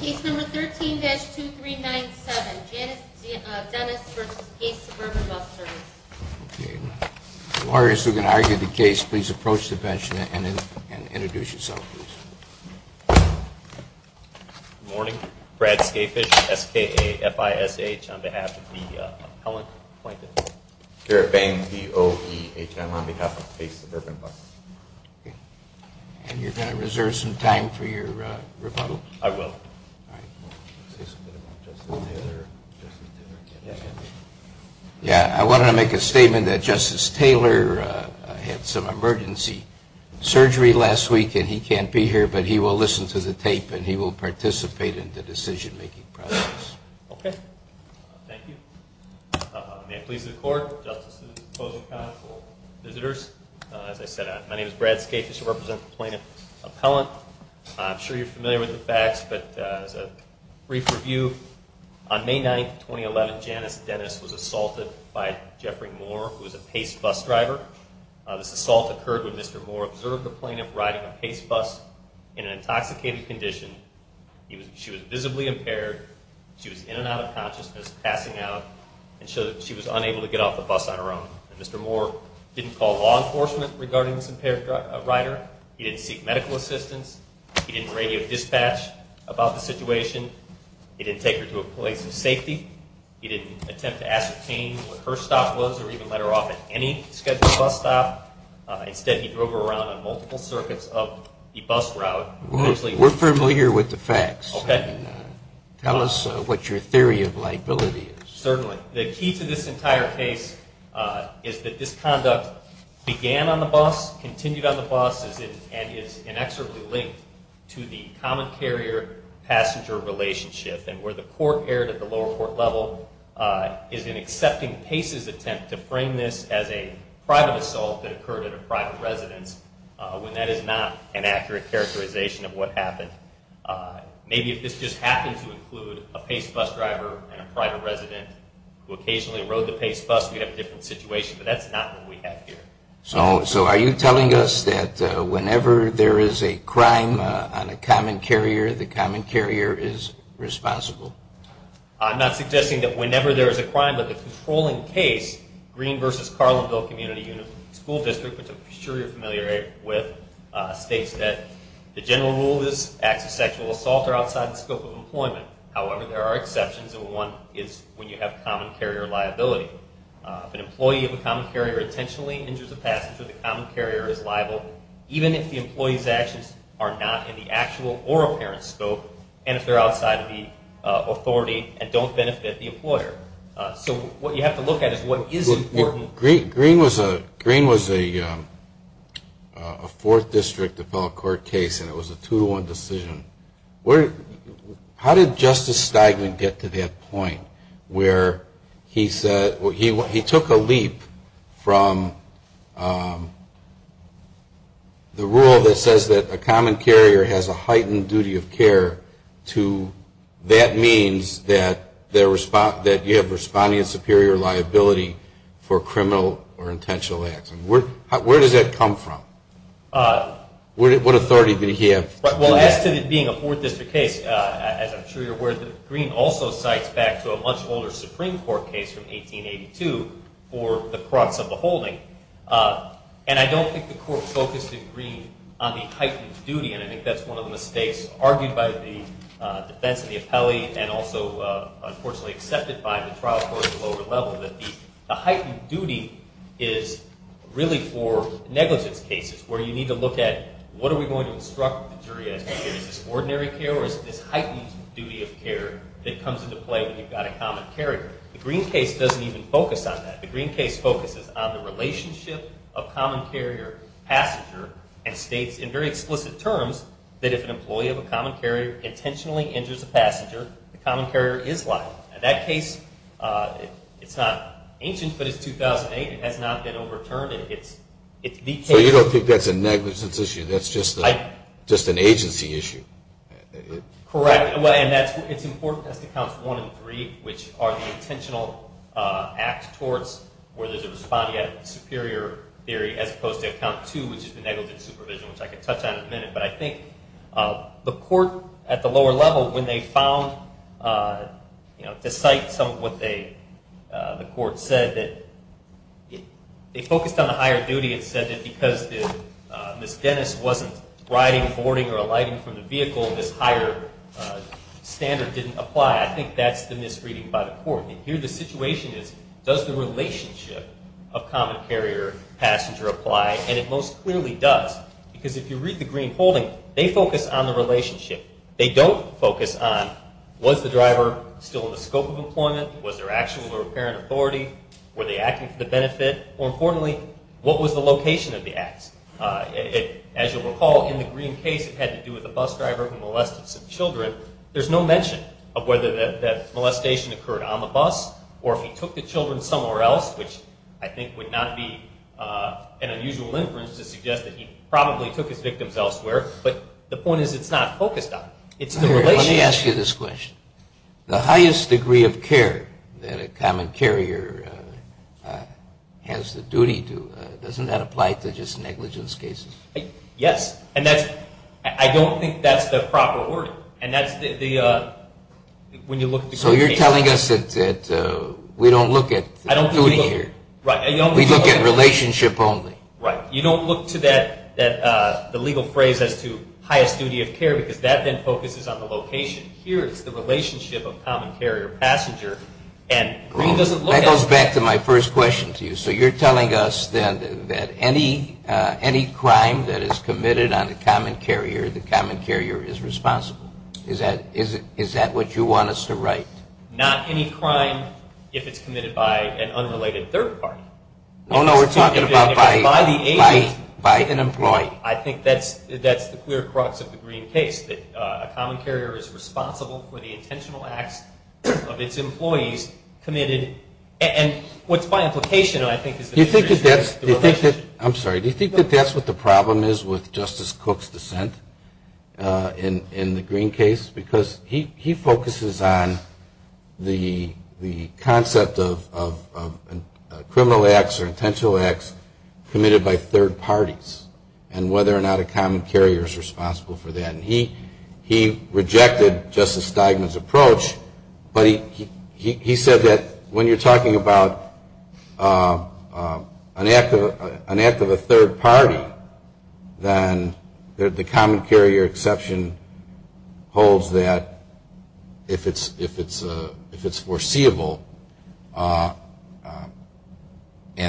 Case number 13-2397, Dennis v. Pace Suburban Bus Service. Okay. Lawyers who can argue the case, please approach the bench and introduce yourself, please. Good morning. Brad Skafish, S-K-A-F-I-S-H, on behalf of the appellant appointed. Garrett Bang, B-O-E-H-M, on behalf of Pace Suburban Bus. And you're going to reserve some time for your rebuttal? I will. Yeah, I wanted to make a statement that Justice Taylor had some emergency surgery last week and he can't be here, but he will listen to the tape and he will participate in the decision-making process. Okay. Thank you. May it please the Court, Justices, opposing counsel, visitors. As I said, my name is Brad Skafish. I represent the plaintiff appellant. I'm sure you're familiar with the facts, but as a brief review, on May 9, 2011, Janice Dennis was assaulted by Jeffrey Moore, who was a Pace bus driver. This assault occurred when Mr. Moore observed the plaintiff riding a Pace bus in an intoxicated condition. She was visibly impaired. She was in and out of consciousness, passing out, and she was unable to get off the bus on her own. Mr. Moore didn't call law enforcement regarding this impaired rider. He didn't seek medical assistance. He didn't radio dispatch about the situation. He didn't take her to a place of safety. He didn't attempt to ascertain where her stop was or even let her off at any scheduled bus stop. Instead, he drove her around on multiple circuits of the bus route. We're familiar with the facts. Tell us what your theory of liability is. Certainly. The key to this entire case is that this conduct began on the bus, continued on the bus, and is inexorably linked to the common carrier-passenger relationship, and where the court erred at the lower court level is an accepting Pace's attempt to frame this as a private assault that occurred at a private residence when that is not an accurate characterization of what happened. Maybe if this just happened to include a Pace bus driver and a private resident who occasionally rode the Pace bus, we'd have a different situation, but that's not what we have here. So are you telling us that whenever there is a crime on a common carrier, the common carrier is responsible? I'm not suggesting that whenever there is a crime, but the controlling case, Green v. Carlinville Community School District, which I'm sure you're familiar with, states that the general rule is acts of sexual assault are outside the scope of employment. However, there are exceptions, and one is when you have common carrier liability. If an employee of a common carrier intentionally injures a passenger, the common carrier is liable, even if the employee's actions are not in the actual or apparent scope, and if they're outside of the authority and don't benefit the employer. So what you have to look at is what is important. Green was a fourth district appellate court case, and it was a two-to-one decision. How did Justice Steigman get to that point where he said, he took a leap from the rule that says that a common carrier has a heightened duty of care to that means that you have responding and superior liability for criminal or intentional acts? Where does that come from? What authority did he have? Well, as to it being a fourth district case, as I'm sure you're aware, Green also cites back to a much older Supreme Court case from 1882 for the crux of the holding, and I don't think the court focused in Green on the heightened duty, and I think that's one of the mistakes argued by the defense of the appellee and also, unfortunately, accepted by the trial court at the lower level, that the heightened duty is really for negligence cases, where you need to look at what are we going to instruct the jury as to is this ordinary care or is it this heightened duty of care that comes into play when you've got a common carrier? The Green case doesn't even focus on that. The Green case focuses on the relationship of common carrier-passenger and states in very explicit terms that if an employee of a common carrier intentionally injures a passenger, the common carrier is liable. In that case, it's not ancient, but it's 2008. It has not been overturned, and it's the case. So you don't think that's a negligence issue. That's just an agency issue. Correct, and it's important as to counts one and three, which are the intentional act towards where there's a responding act of superior theory as opposed to count two, which is the negligent supervision, which I could touch on in a minute, but I think the court at the lower level, when they found, you know, to cite some of what the court said, they focused on the higher duty and said that because Ms. Dennis wasn't riding, boarding, or alighting from the vehicle, this higher standard didn't apply. I think that's the misreading by the court, and here the situation is does the relationship of common carrier-passenger apply, and it most clearly does because if you read the Green holding, they focus on the relationship. They don't focus on was the driver still in the scope of employment, and more importantly, what was the location of the acts. As you'll recall, in the Green case, it had to do with a bus driver who molested some children. There's no mention of whether that molestation occurred on the bus or if he took the children somewhere else, which I think would not be an unusual inference to suggest that he probably took his victims elsewhere, but the point is it's not focused on. Let me ask you this question. The highest degree of care that a common carrier has the duty to, doesn't that apply to just negligence cases? Yes, and I don't think that's the proper order. So you're telling us that we don't look at duty here. We look at relationship only. Right. You don't look to the legal phrase as to highest duty of care because that then focuses on the location. Here is the relationship of common carrier passenger, and Green doesn't look at it. That goes back to my first question to you. So you're telling us then that any crime that is committed on a common carrier, the common carrier is responsible. Is that what you want us to write? Not any crime if it's committed by an unrelated third party. Oh, no, we're talking about by an employee. I think that's the clear crux of the Green case, that a common carrier is responsible for the intentional acts of its employees committed, and what's by implication I think is the relationship. I'm sorry, do you think that that's what the problem is with Justice Cook's dissent in the Green case? Because he focuses on the concept of criminal acts or intentional acts committed by third parties, and whether or not a common carrier is responsible for that, and he rejected Justice Steigman's approach, but he said that when you're talking about an act of a third party, then the common carrier exception holds that if it's foreseeable, and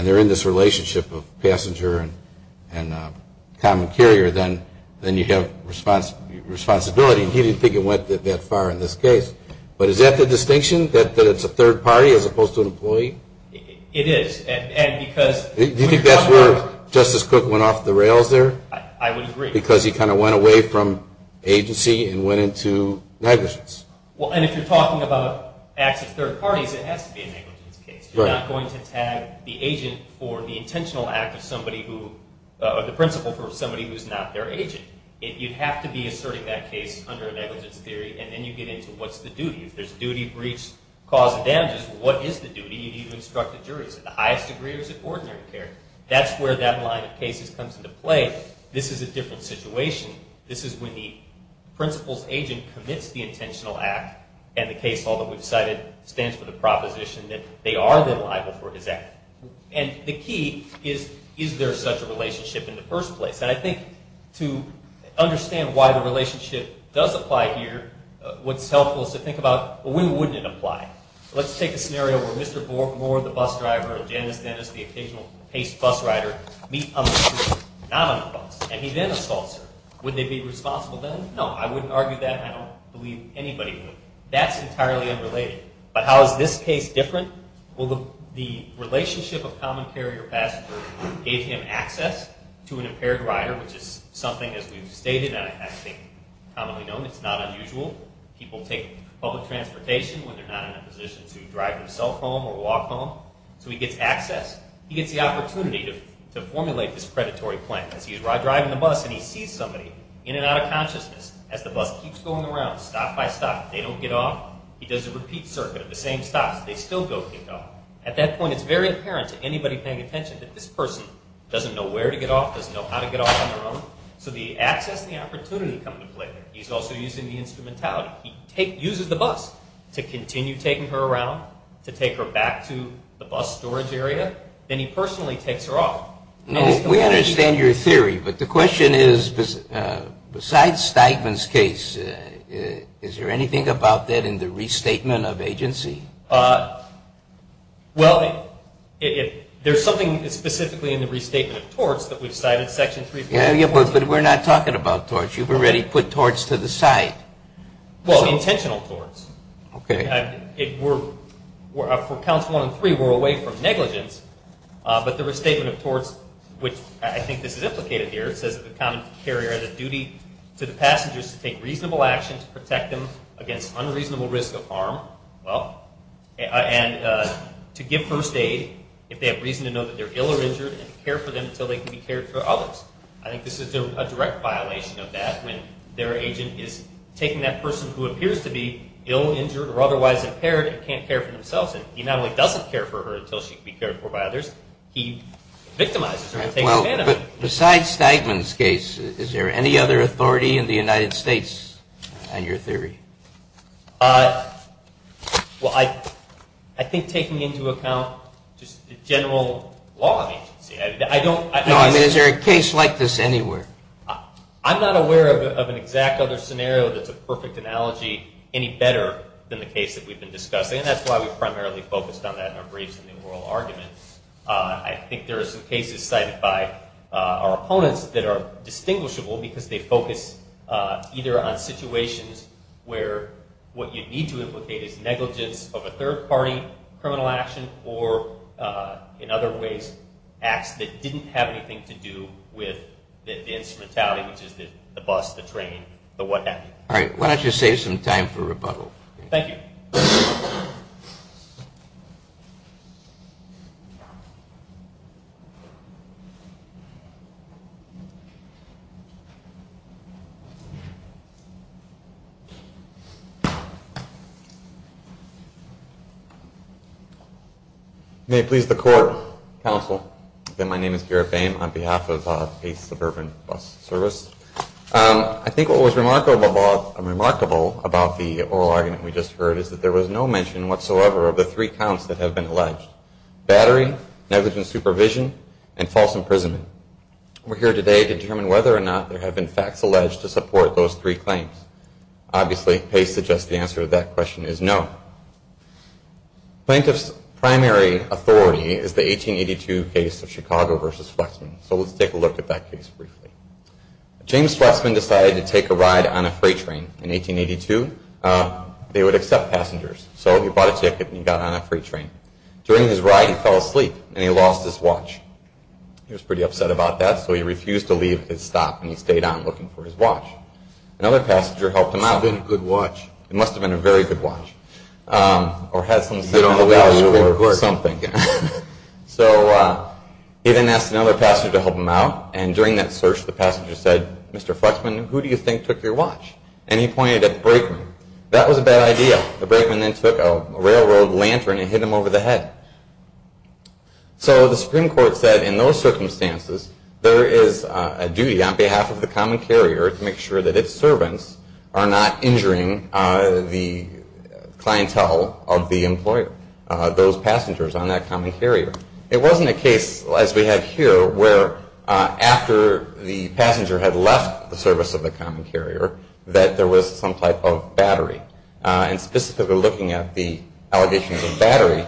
they're in this relationship of passenger and common carrier, then you have responsibility, and he didn't think it went that far in this case. But is that the distinction, that it's a third party as opposed to an employee? It is. Do you think that's where Justice Cook went off the rails there? I would agree. Because he kind of went away from agency and went into negligence. Well, and if you're talking about acts of third parties, it has to be a negligence case. You're not going to tag the agent for the intentional act of somebody who, or the principal for somebody who's not their agent. You'd have to be asserting that case under a negligence theory, and then you get into what's the duty. If there's a duty, breach, cause of damages, what is the duty? You need to instruct the jury. Is it the highest degree or is it ordinary care? That's where that line of cases comes into play. This is a different situation. This is when the principal's agent commits the intentional act, and the case law that we've cited stands for the proposition that they are then liable for his act. And the key is, is there such a relationship in the first place? And I think to understand why the relationship does apply here, what's helpful is to think about, well, when wouldn't it apply? Let's take a scenario where Mr. Moore, the bus driver, and Janice Dennis, the occasional paced bus rider, meet on the street, not on the bus. And he then assaults her. Would they be responsible then? No, I wouldn't argue that. I don't believe anybody would. That's entirely unrelated. But how is this case different? Well, the relationship of common carrier passenger gave him access to an impaired rider, which is something, as we've stated and I think commonly known, it's not unusual. People take public transportation when they're not in a position to drive themselves home or walk home. So he gets access. He gets the opportunity to formulate this predatory plan. As he's driving the bus and he sees somebody, in and out of consciousness, as the bus keeps going around, stop by stop, they don't get off, he does a repeat circuit of the same stops. They still don't get off. At that point, it's very apparent to anybody paying attention that this person doesn't know where to get off, doesn't know how to get off on their own. So the access and the opportunity come into play. He's also using the instrumentality. He uses the bus to continue taking her around, to take her back to the bus storage area. Then he personally takes her off. Now, we understand your theory, but the question is, besides Steigman's case, is there anything about that in the restatement of agency? Well, there's something specifically in the restatement of torts that we've cited, Section 314. Yeah, but we're not talking about torts. You've already put torts to the side. Well, intentional torts. Okay. For counts one and three, we're away from negligence. But the restatement of torts, which I think this is implicated here, it says that the common carrier has a duty to the passengers to take reasonable action to protect them against unreasonable risk of harm. Well, and to give first aid if they have reason to know that they're ill or injured and to care for them until they can be cared for by others. I think this is a direct violation of that, when their agent is taking that person who appears to be ill, injured, or otherwise impaired and can't care for themselves. And he not only doesn't care for her until she can be cared for by others, he victimizes her and takes advantage of her. But besides Steigman's case, is there any other authority in the United States on your theory? Well, I think taking into account just the general law of agency. No, I mean, is there a case like this anywhere? I'm not aware of an exact other scenario that's a perfect analogy, any better than the case that we've been discussing, and that's why we primarily focused on that in our briefs in the oral argument. I think there are some cases cited by our opponents that are distinguishable because they focus either on situations where what you need to implicate is negligence of a third-party criminal action or, in other ways, acts that didn't have anything to do with the instrumentality, which is the bus, the train, the what have you. All right. Why don't you save some time for rebuttal? Thank you. May it please the Court, Counsel, that my name is Garrett Boehm on behalf of the Suburban Bus Service. I think what was remarkable about the oral argument we just heard is that there was no mention whatsoever of the three counts that have been alleged, battery, negligent supervision, and false imprisonment. We're here today to determine whether or not there have been facts alleged to support those three claims. Obviously, Pace suggests the answer to that question is no. Plaintiff's primary authority is the 1882 case of Chicago v. Flexman, so let's take a look at that case briefly. James Flexman decided to take a ride on a freight train in 1882. They would accept passengers, so he bought a ticket and he got on a freight train. During his ride, he fell asleep and he lost his watch. He was pretty upset about that, so he refused to leave his stop and he stayed on looking for his watch. Another passenger helped him out. It must have been a good watch. It must have been a very good watch or had some sentimental value or something. So he then asked another passenger to help him out, and during that search, the passenger said, Mr. Flexman, who do you think took your watch? And he pointed at the brakeman. That was a bad idea. The brakeman then took a railroad lantern and hit him over the head. So the Supreme Court said in those circumstances, there is a duty on behalf of the common carrier to make sure that its servants are not injuring the clientele of the employer, those passengers on that common carrier. It wasn't a case, as we have here, where after the passenger had left the service of the common carrier, that there was some type of battery. And specifically looking at the allegations of battery,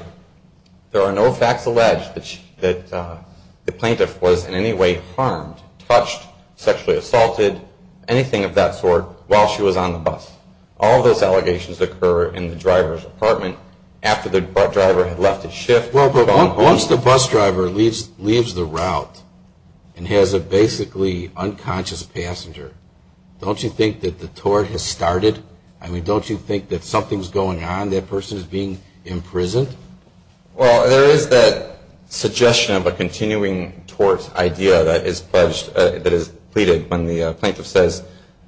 there are no facts alleged that the plaintiff was in any way harmed, touched, sexually assaulted, anything of that sort, while she was on the bus. All of those allegations occur in the driver's apartment after the driver had left his shift. Well, but once the bus driver leaves the route and has a basically unconscious passenger, don't you think that the tort has started? I mean, don't you think that something is going on, that person is being imprisoned? Well, there is that suggestion of a continuing tort idea that is pleaded when the plaintiff says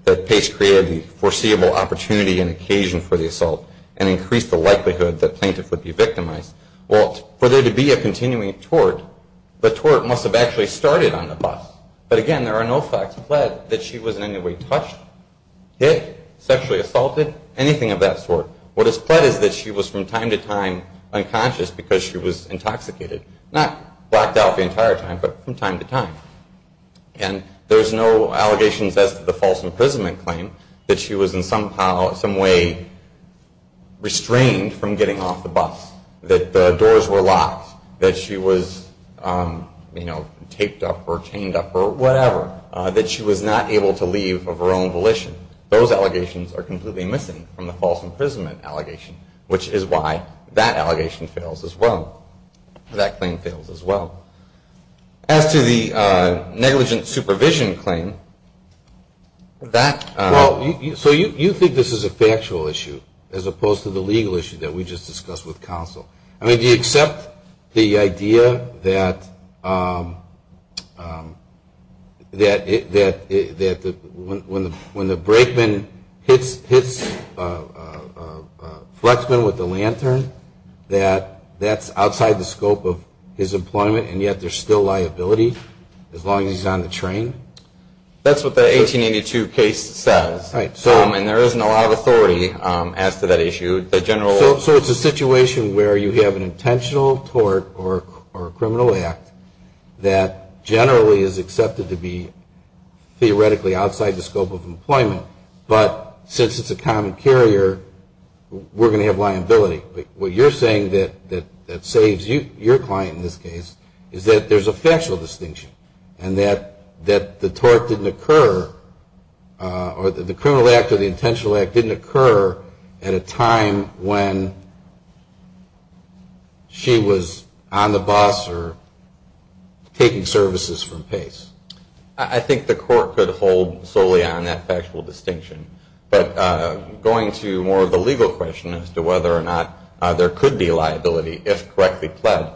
that Pace created the foreseeable opportunity and occasion for the assault and increased the likelihood that plaintiff would be victimized. Well, for there to be a continuing tort, the tort must have actually started on the bus. But again, there are no facts pled that she was in any way touched, hit, sexually assaulted, anything of that sort. What is pled is that she was from time to time unconscious because she was intoxicated. Not blacked out the entire time, but from time to time. And there's no allegations as to the false imprisonment claim that she was in some way restrained from getting off the bus, that the doors were locked, that she was taped up or chained up or whatever, that she was not able to leave of her own volition. Those allegations are completely missing from the false imprisonment allegation, which is why that allegation fails as well, that claim fails as well. As to the negligent supervision claim, that... So you think this is a factual issue as opposed to the legal issue that we just discussed with counsel? I mean, do you accept the idea that when the brakeman hits a flexman with a lantern, that that's outside the scope of his employment and yet there's still liability as long as he's on the train? That's what the 1882 case says. Right. And there isn't a lot of authority as to that issue. So it's a situation where you have an intentional tort or a criminal act that generally is accepted to be theoretically outside the scope of employment, but since it's a common carrier, we're going to have liability. What you're saying that saves your client in this case is that there's a factual distinction and that the tort didn't occur or the criminal act or the intentional act didn't occur at a time when she was on the bus or taking services from Pace. I think the court could hold solely on that factual distinction. But going to more of the legal question as to whether or not there could be liability if correctly pled,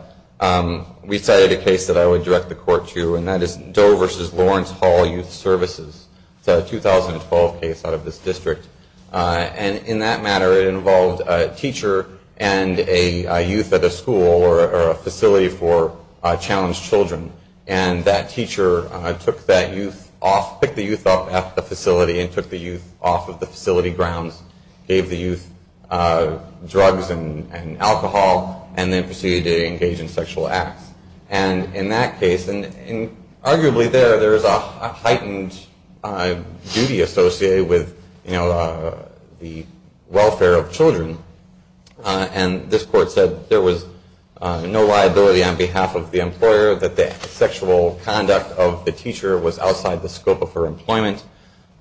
we cited a case that I would direct the court to, and that is Doe versus Lawrence Hall Youth Services. It's a 2012 case out of this district. And in that matter, it involved a teacher and a youth at a school or a facility for challenged children. And that teacher took that youth off, picked the youth up at the facility and took the youth off of the facility grounds, gave the youth drugs and alcohol, and then proceeded to engage in sexual acts. And in that case, and arguably there, there is a heightened duty associated with the welfare of children. And this court said there was no liability on behalf of the employer, that the sexual conduct of the teacher was outside the scope of her employment.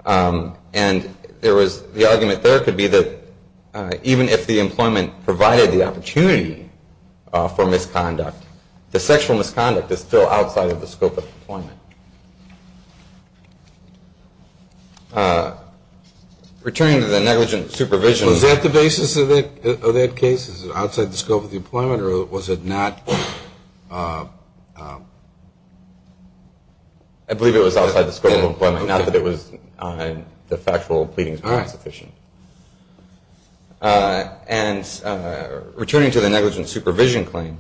And there was the argument there could be that even if the employment provided the opportunity for misconduct, the sexual misconduct is still outside of the scope of employment. Returning to the negligent supervision. Was that the basis of that case? Was it outside the scope of the employment or was it not? I believe it was outside the scope of employment, not that it was the factual pleadings weren't sufficient. And returning to the negligent supervision claim,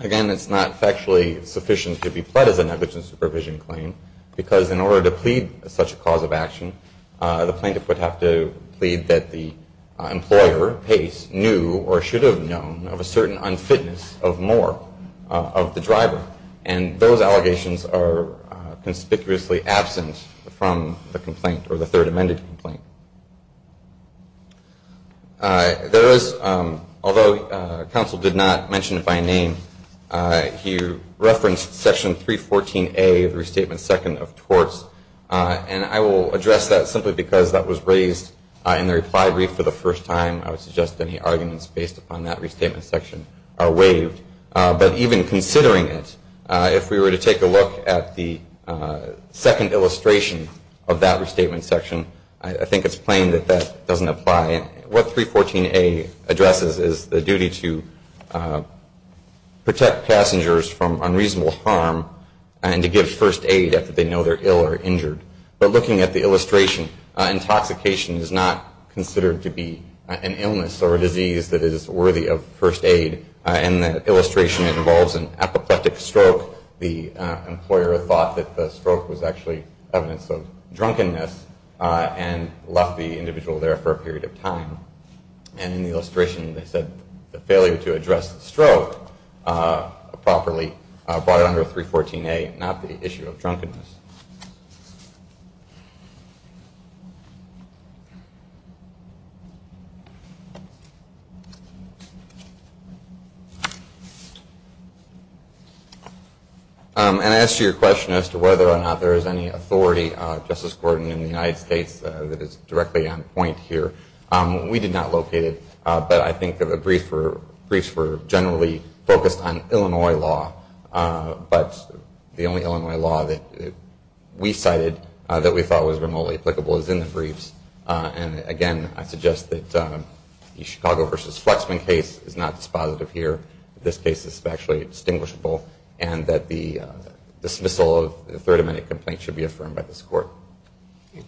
again, it's not factually sufficient to be pled as a negligent supervision claim, because in order to plead such a cause of action, the plaintiff would have to plead that the employer, Pace, knew or should have known of a certain unfitness of more of the driver. And those allegations are conspicuously absent from the complaint or the third amended complaint. There is, although counsel did not mention it by name, he referenced section 314A of the restatement second of torts. And I will address that simply because that was raised in the reply brief for the first time. I would suggest any arguments based upon that restatement section are waived. But even considering it, if we were to take a look at the second illustration of that restatement section, I think it's plain that that doesn't apply. And what 314A addresses is the duty to protect passengers from unreasonable harm and to give first aid after they know they're ill or injured. But looking at the illustration, intoxication is not considered to be an illness or a disease that is worthy of first aid. And the illustration involves an apoplectic stroke. The employer thought that the stroke was actually evidence of drunkenness and left the individual there for a period of time. And in the illustration, they said the failure to address the stroke properly brought it under 314A, not the issue of drunkenness. And I asked you a question as to whether or not there is any authority, Justice Gordon, in the United States that is directly on point here. We did not locate it, but I think the briefs were generally focused on Illinois law. But the only Illinois law that we cited that we thought was remotely applicable is in the briefs. And, again, I suggest that the Chicago v. Flexman case is not dispositive here. This case is factually distinguishable, and that the dismissal of the third amendment complaint should be affirmed by this Court.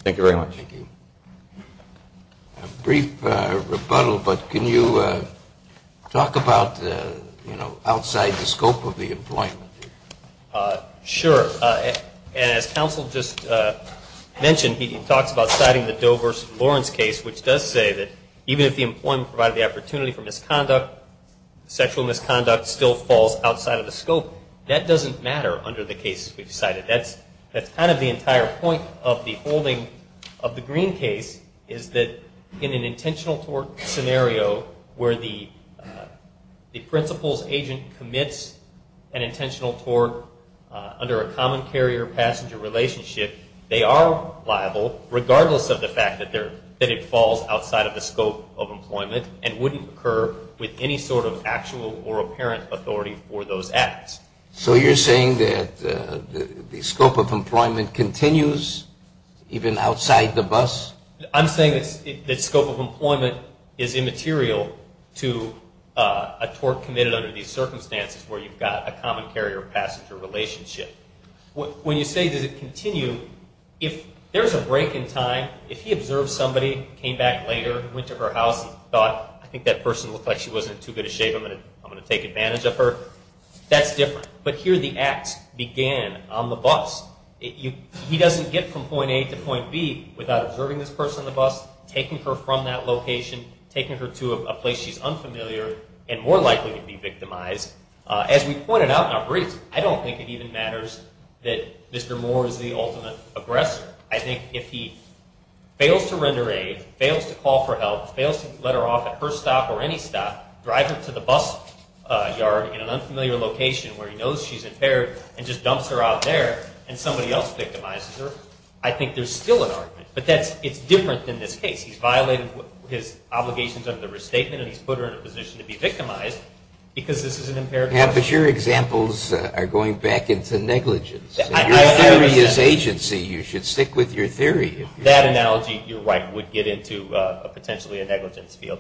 Thank you very much. Thank you. A brief rebuttal, but can you talk about outside the scope of the employment? Sure. And as counsel just mentioned, he talks about citing the Dover v. Lawrence case, which does say that even if the employment provided the opportunity for misconduct, sexual misconduct still falls outside of the scope. That doesn't matter under the case we've cited. That's kind of the entire point of the holding of the Green case is that in an intentional tort scenario where the principal's agent commits an intentional tort under a common carrier-passenger relationship, they are liable regardless of the fact that it falls outside of the scope of employment and wouldn't occur with any sort of actual or apparent authority for those acts. So you're saying that the scope of employment continues even outside the bus? I'm saying that scope of employment is immaterial to a tort committed under these circumstances where you've got a common carrier-passenger relationship. When you say, does it continue, if there's a break in time, if he observed somebody, came back later, went to her house and thought, I think that person looked like she wasn't in too good a shape, I'm going to take advantage of her, that's different. But here the acts began on the bus. He doesn't get from point A to point B without observing this person on the bus, taking her from that location, taking her to a place she's unfamiliar and more likely to be victimized. As we pointed out in our brief, I don't think it even matters that Mr. Moore is the ultimate aggressor. I think if he fails to render aid, fails to call for help, fails to let her off at her stop or any stop, drive her to the bus yard in an unfamiliar location where he knows she's impaired and just dumps her out there and somebody else victimizes her, I think there's still an argument. But it's different than this case. He's violated his obligations under the restatement and he's put her in a position to be victimized because this is an impaired person. But your examples are going back into negligence. Your theory is agency. You should stick with your theory. That analogy, you're right, would get into potentially a negligence field.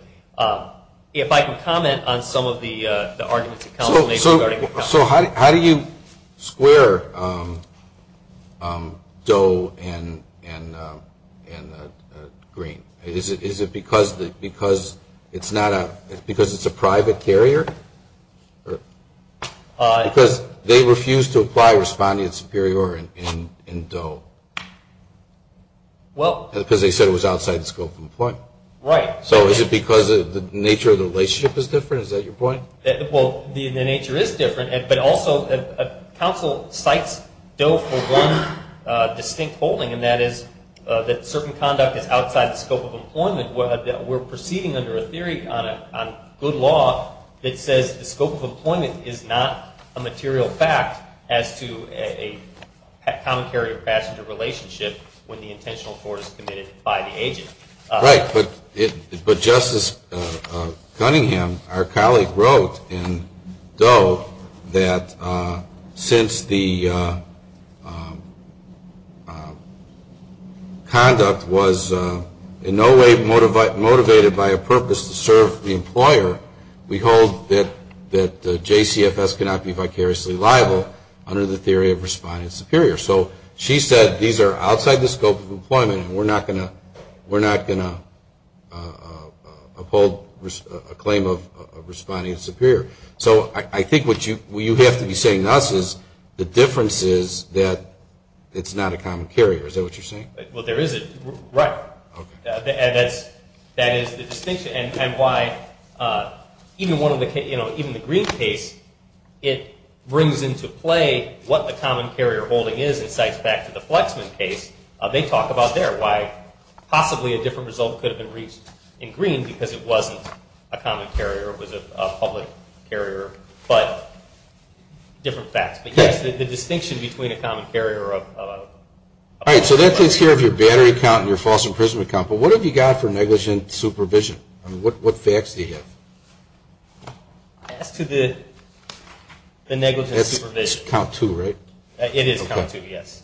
If I can comment on some of the arguments that Council made regarding the count. So how do you square Doe and Green? Is it because it's a private carrier? Because they refused to apply respondent superior in Doe. Well. Because they said it was outside the scope of employment. Right. So is it because the nature of the relationship is different? Is that your point? Well, the nature is different. But also Council cites Doe for one distinct holding, and that is that certain conduct is outside the scope of employment. We're proceeding under a theory on good law that says the scope of employment is not a material fact as to a common carrier or passenger relationship when the intentional fraud is committed by the agent. Right. But Justice Cunningham, our colleague, wrote in Doe that since the conduct was in no way motivated by a purpose to serve the employer, we hold that JCFS cannot be vicariously liable under the theory of respondent superior. So she said these are outside the scope of employment, and we're not going to uphold a claim of respondent superior. So I think what you have to be saying to us is the difference is that it's not a common carrier. Is that what you're saying? Well, there isn't. Right. Okay. That is the distinction, and why even the Green case, it brings into play what the common carrier holding is. It cites back to the Flexman case. They talk about there why possibly a different result could have been reached in Green because it wasn't a common carrier. It was a public carrier, but different facts. But, yes, the distinction between a common carrier. All right. So that takes care of your battery count and your false imprisonment count. But what have you got for negligent supervision? What facts do you have? As to the negligent supervision. That's count two, right? It is count two, yes.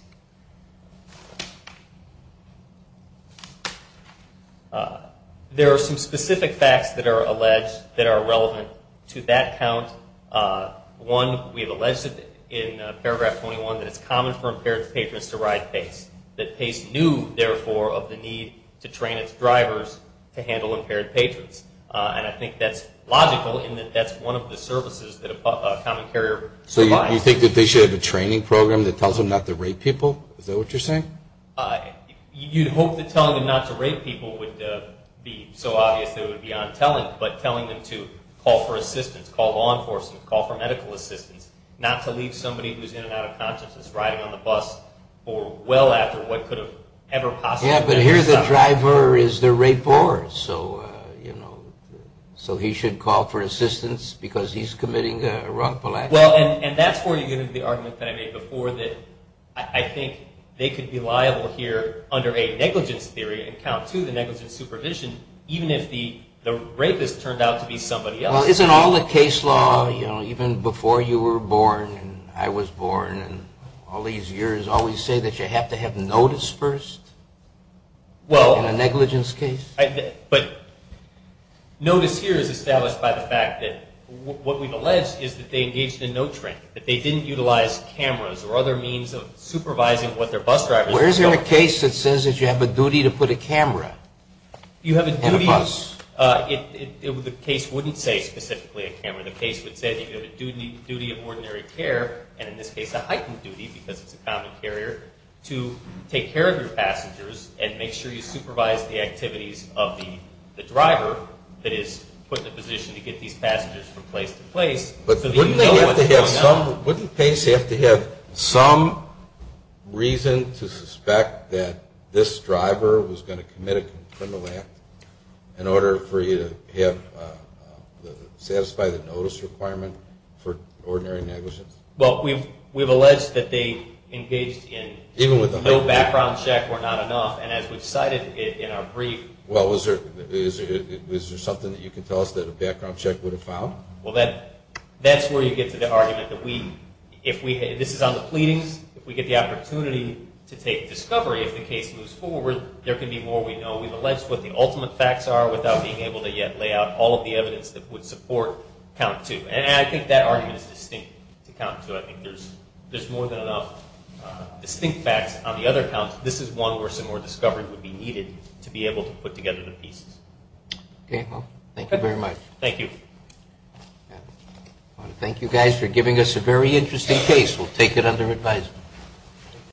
There are some specific facts that are alleged that are relevant to that count. One, we have alleged in paragraph 21 that it's common for impaired patrons to ride PACE, that PACE knew, therefore, of the need to train its drivers to handle impaired patrons. And I think that's logical in that that's one of the services that a common carrier provides. So you think that they should have a training program that tells them not to rape people? Is that what you're saying? You'd hope that telling them not to rape people would be so obvious that it would be untelling, but telling them to call for assistance, call law enforcement, call for medical assistance, not to leave somebody who's in and out of consciousness riding on the bus for well after what could have ever possibly been something. Yeah, but here the driver is the rapist, so, you know, so he should call for assistance because he's committing a wrongful act? Well, and that's where you get into the argument that I made before that I think they could be liable here under a negligence theory and count two, the negligent supervision, even if the rapist turned out to be somebody else. Well, isn't all the case law, you know, even before you were born and I was born and all these years always say that you have to have notice first in a negligence case? But notice here is established by the fact that what we've alleged is that they engaged in no training, that they didn't utilize cameras or other means of supervising what their bus drivers were doing. Well, is there a case that says that you have a duty to put a camera in a bus? You have a duty. The case wouldn't say specifically a camera. The case would say that you have a duty of ordinary care, and in this case a heightened duty because it's a common carrier, to take care of your passengers and make sure you supervise the activities of the driver that is put in a position to get these passengers from place to place. But wouldn't PACE have to have some reason to suspect that this driver was going to commit a criminal act in order for you to satisfy the notice requirement for ordinary negligence? Well, we've alleged that they engaged in no background check were not enough, and as we've cited in our brief... Well, is there something that you can tell us that a background check would have found? Well, that's where you get to the argument that we... This is on the pleadings. If we get the opportunity to take discovery, if the case moves forward, there can be more we know. We've alleged what the ultimate facts are without being able to yet lay out all of the evidence that would support count two. And I think that argument is distinct to count two. I think there's more than enough distinct facts on the other counts. This is one where some more discovery would be needed to be able to put together the pieces. Okay, well, thank you very much. Thank you. Thank you guys for giving us a very interesting case. We'll take it under advisement.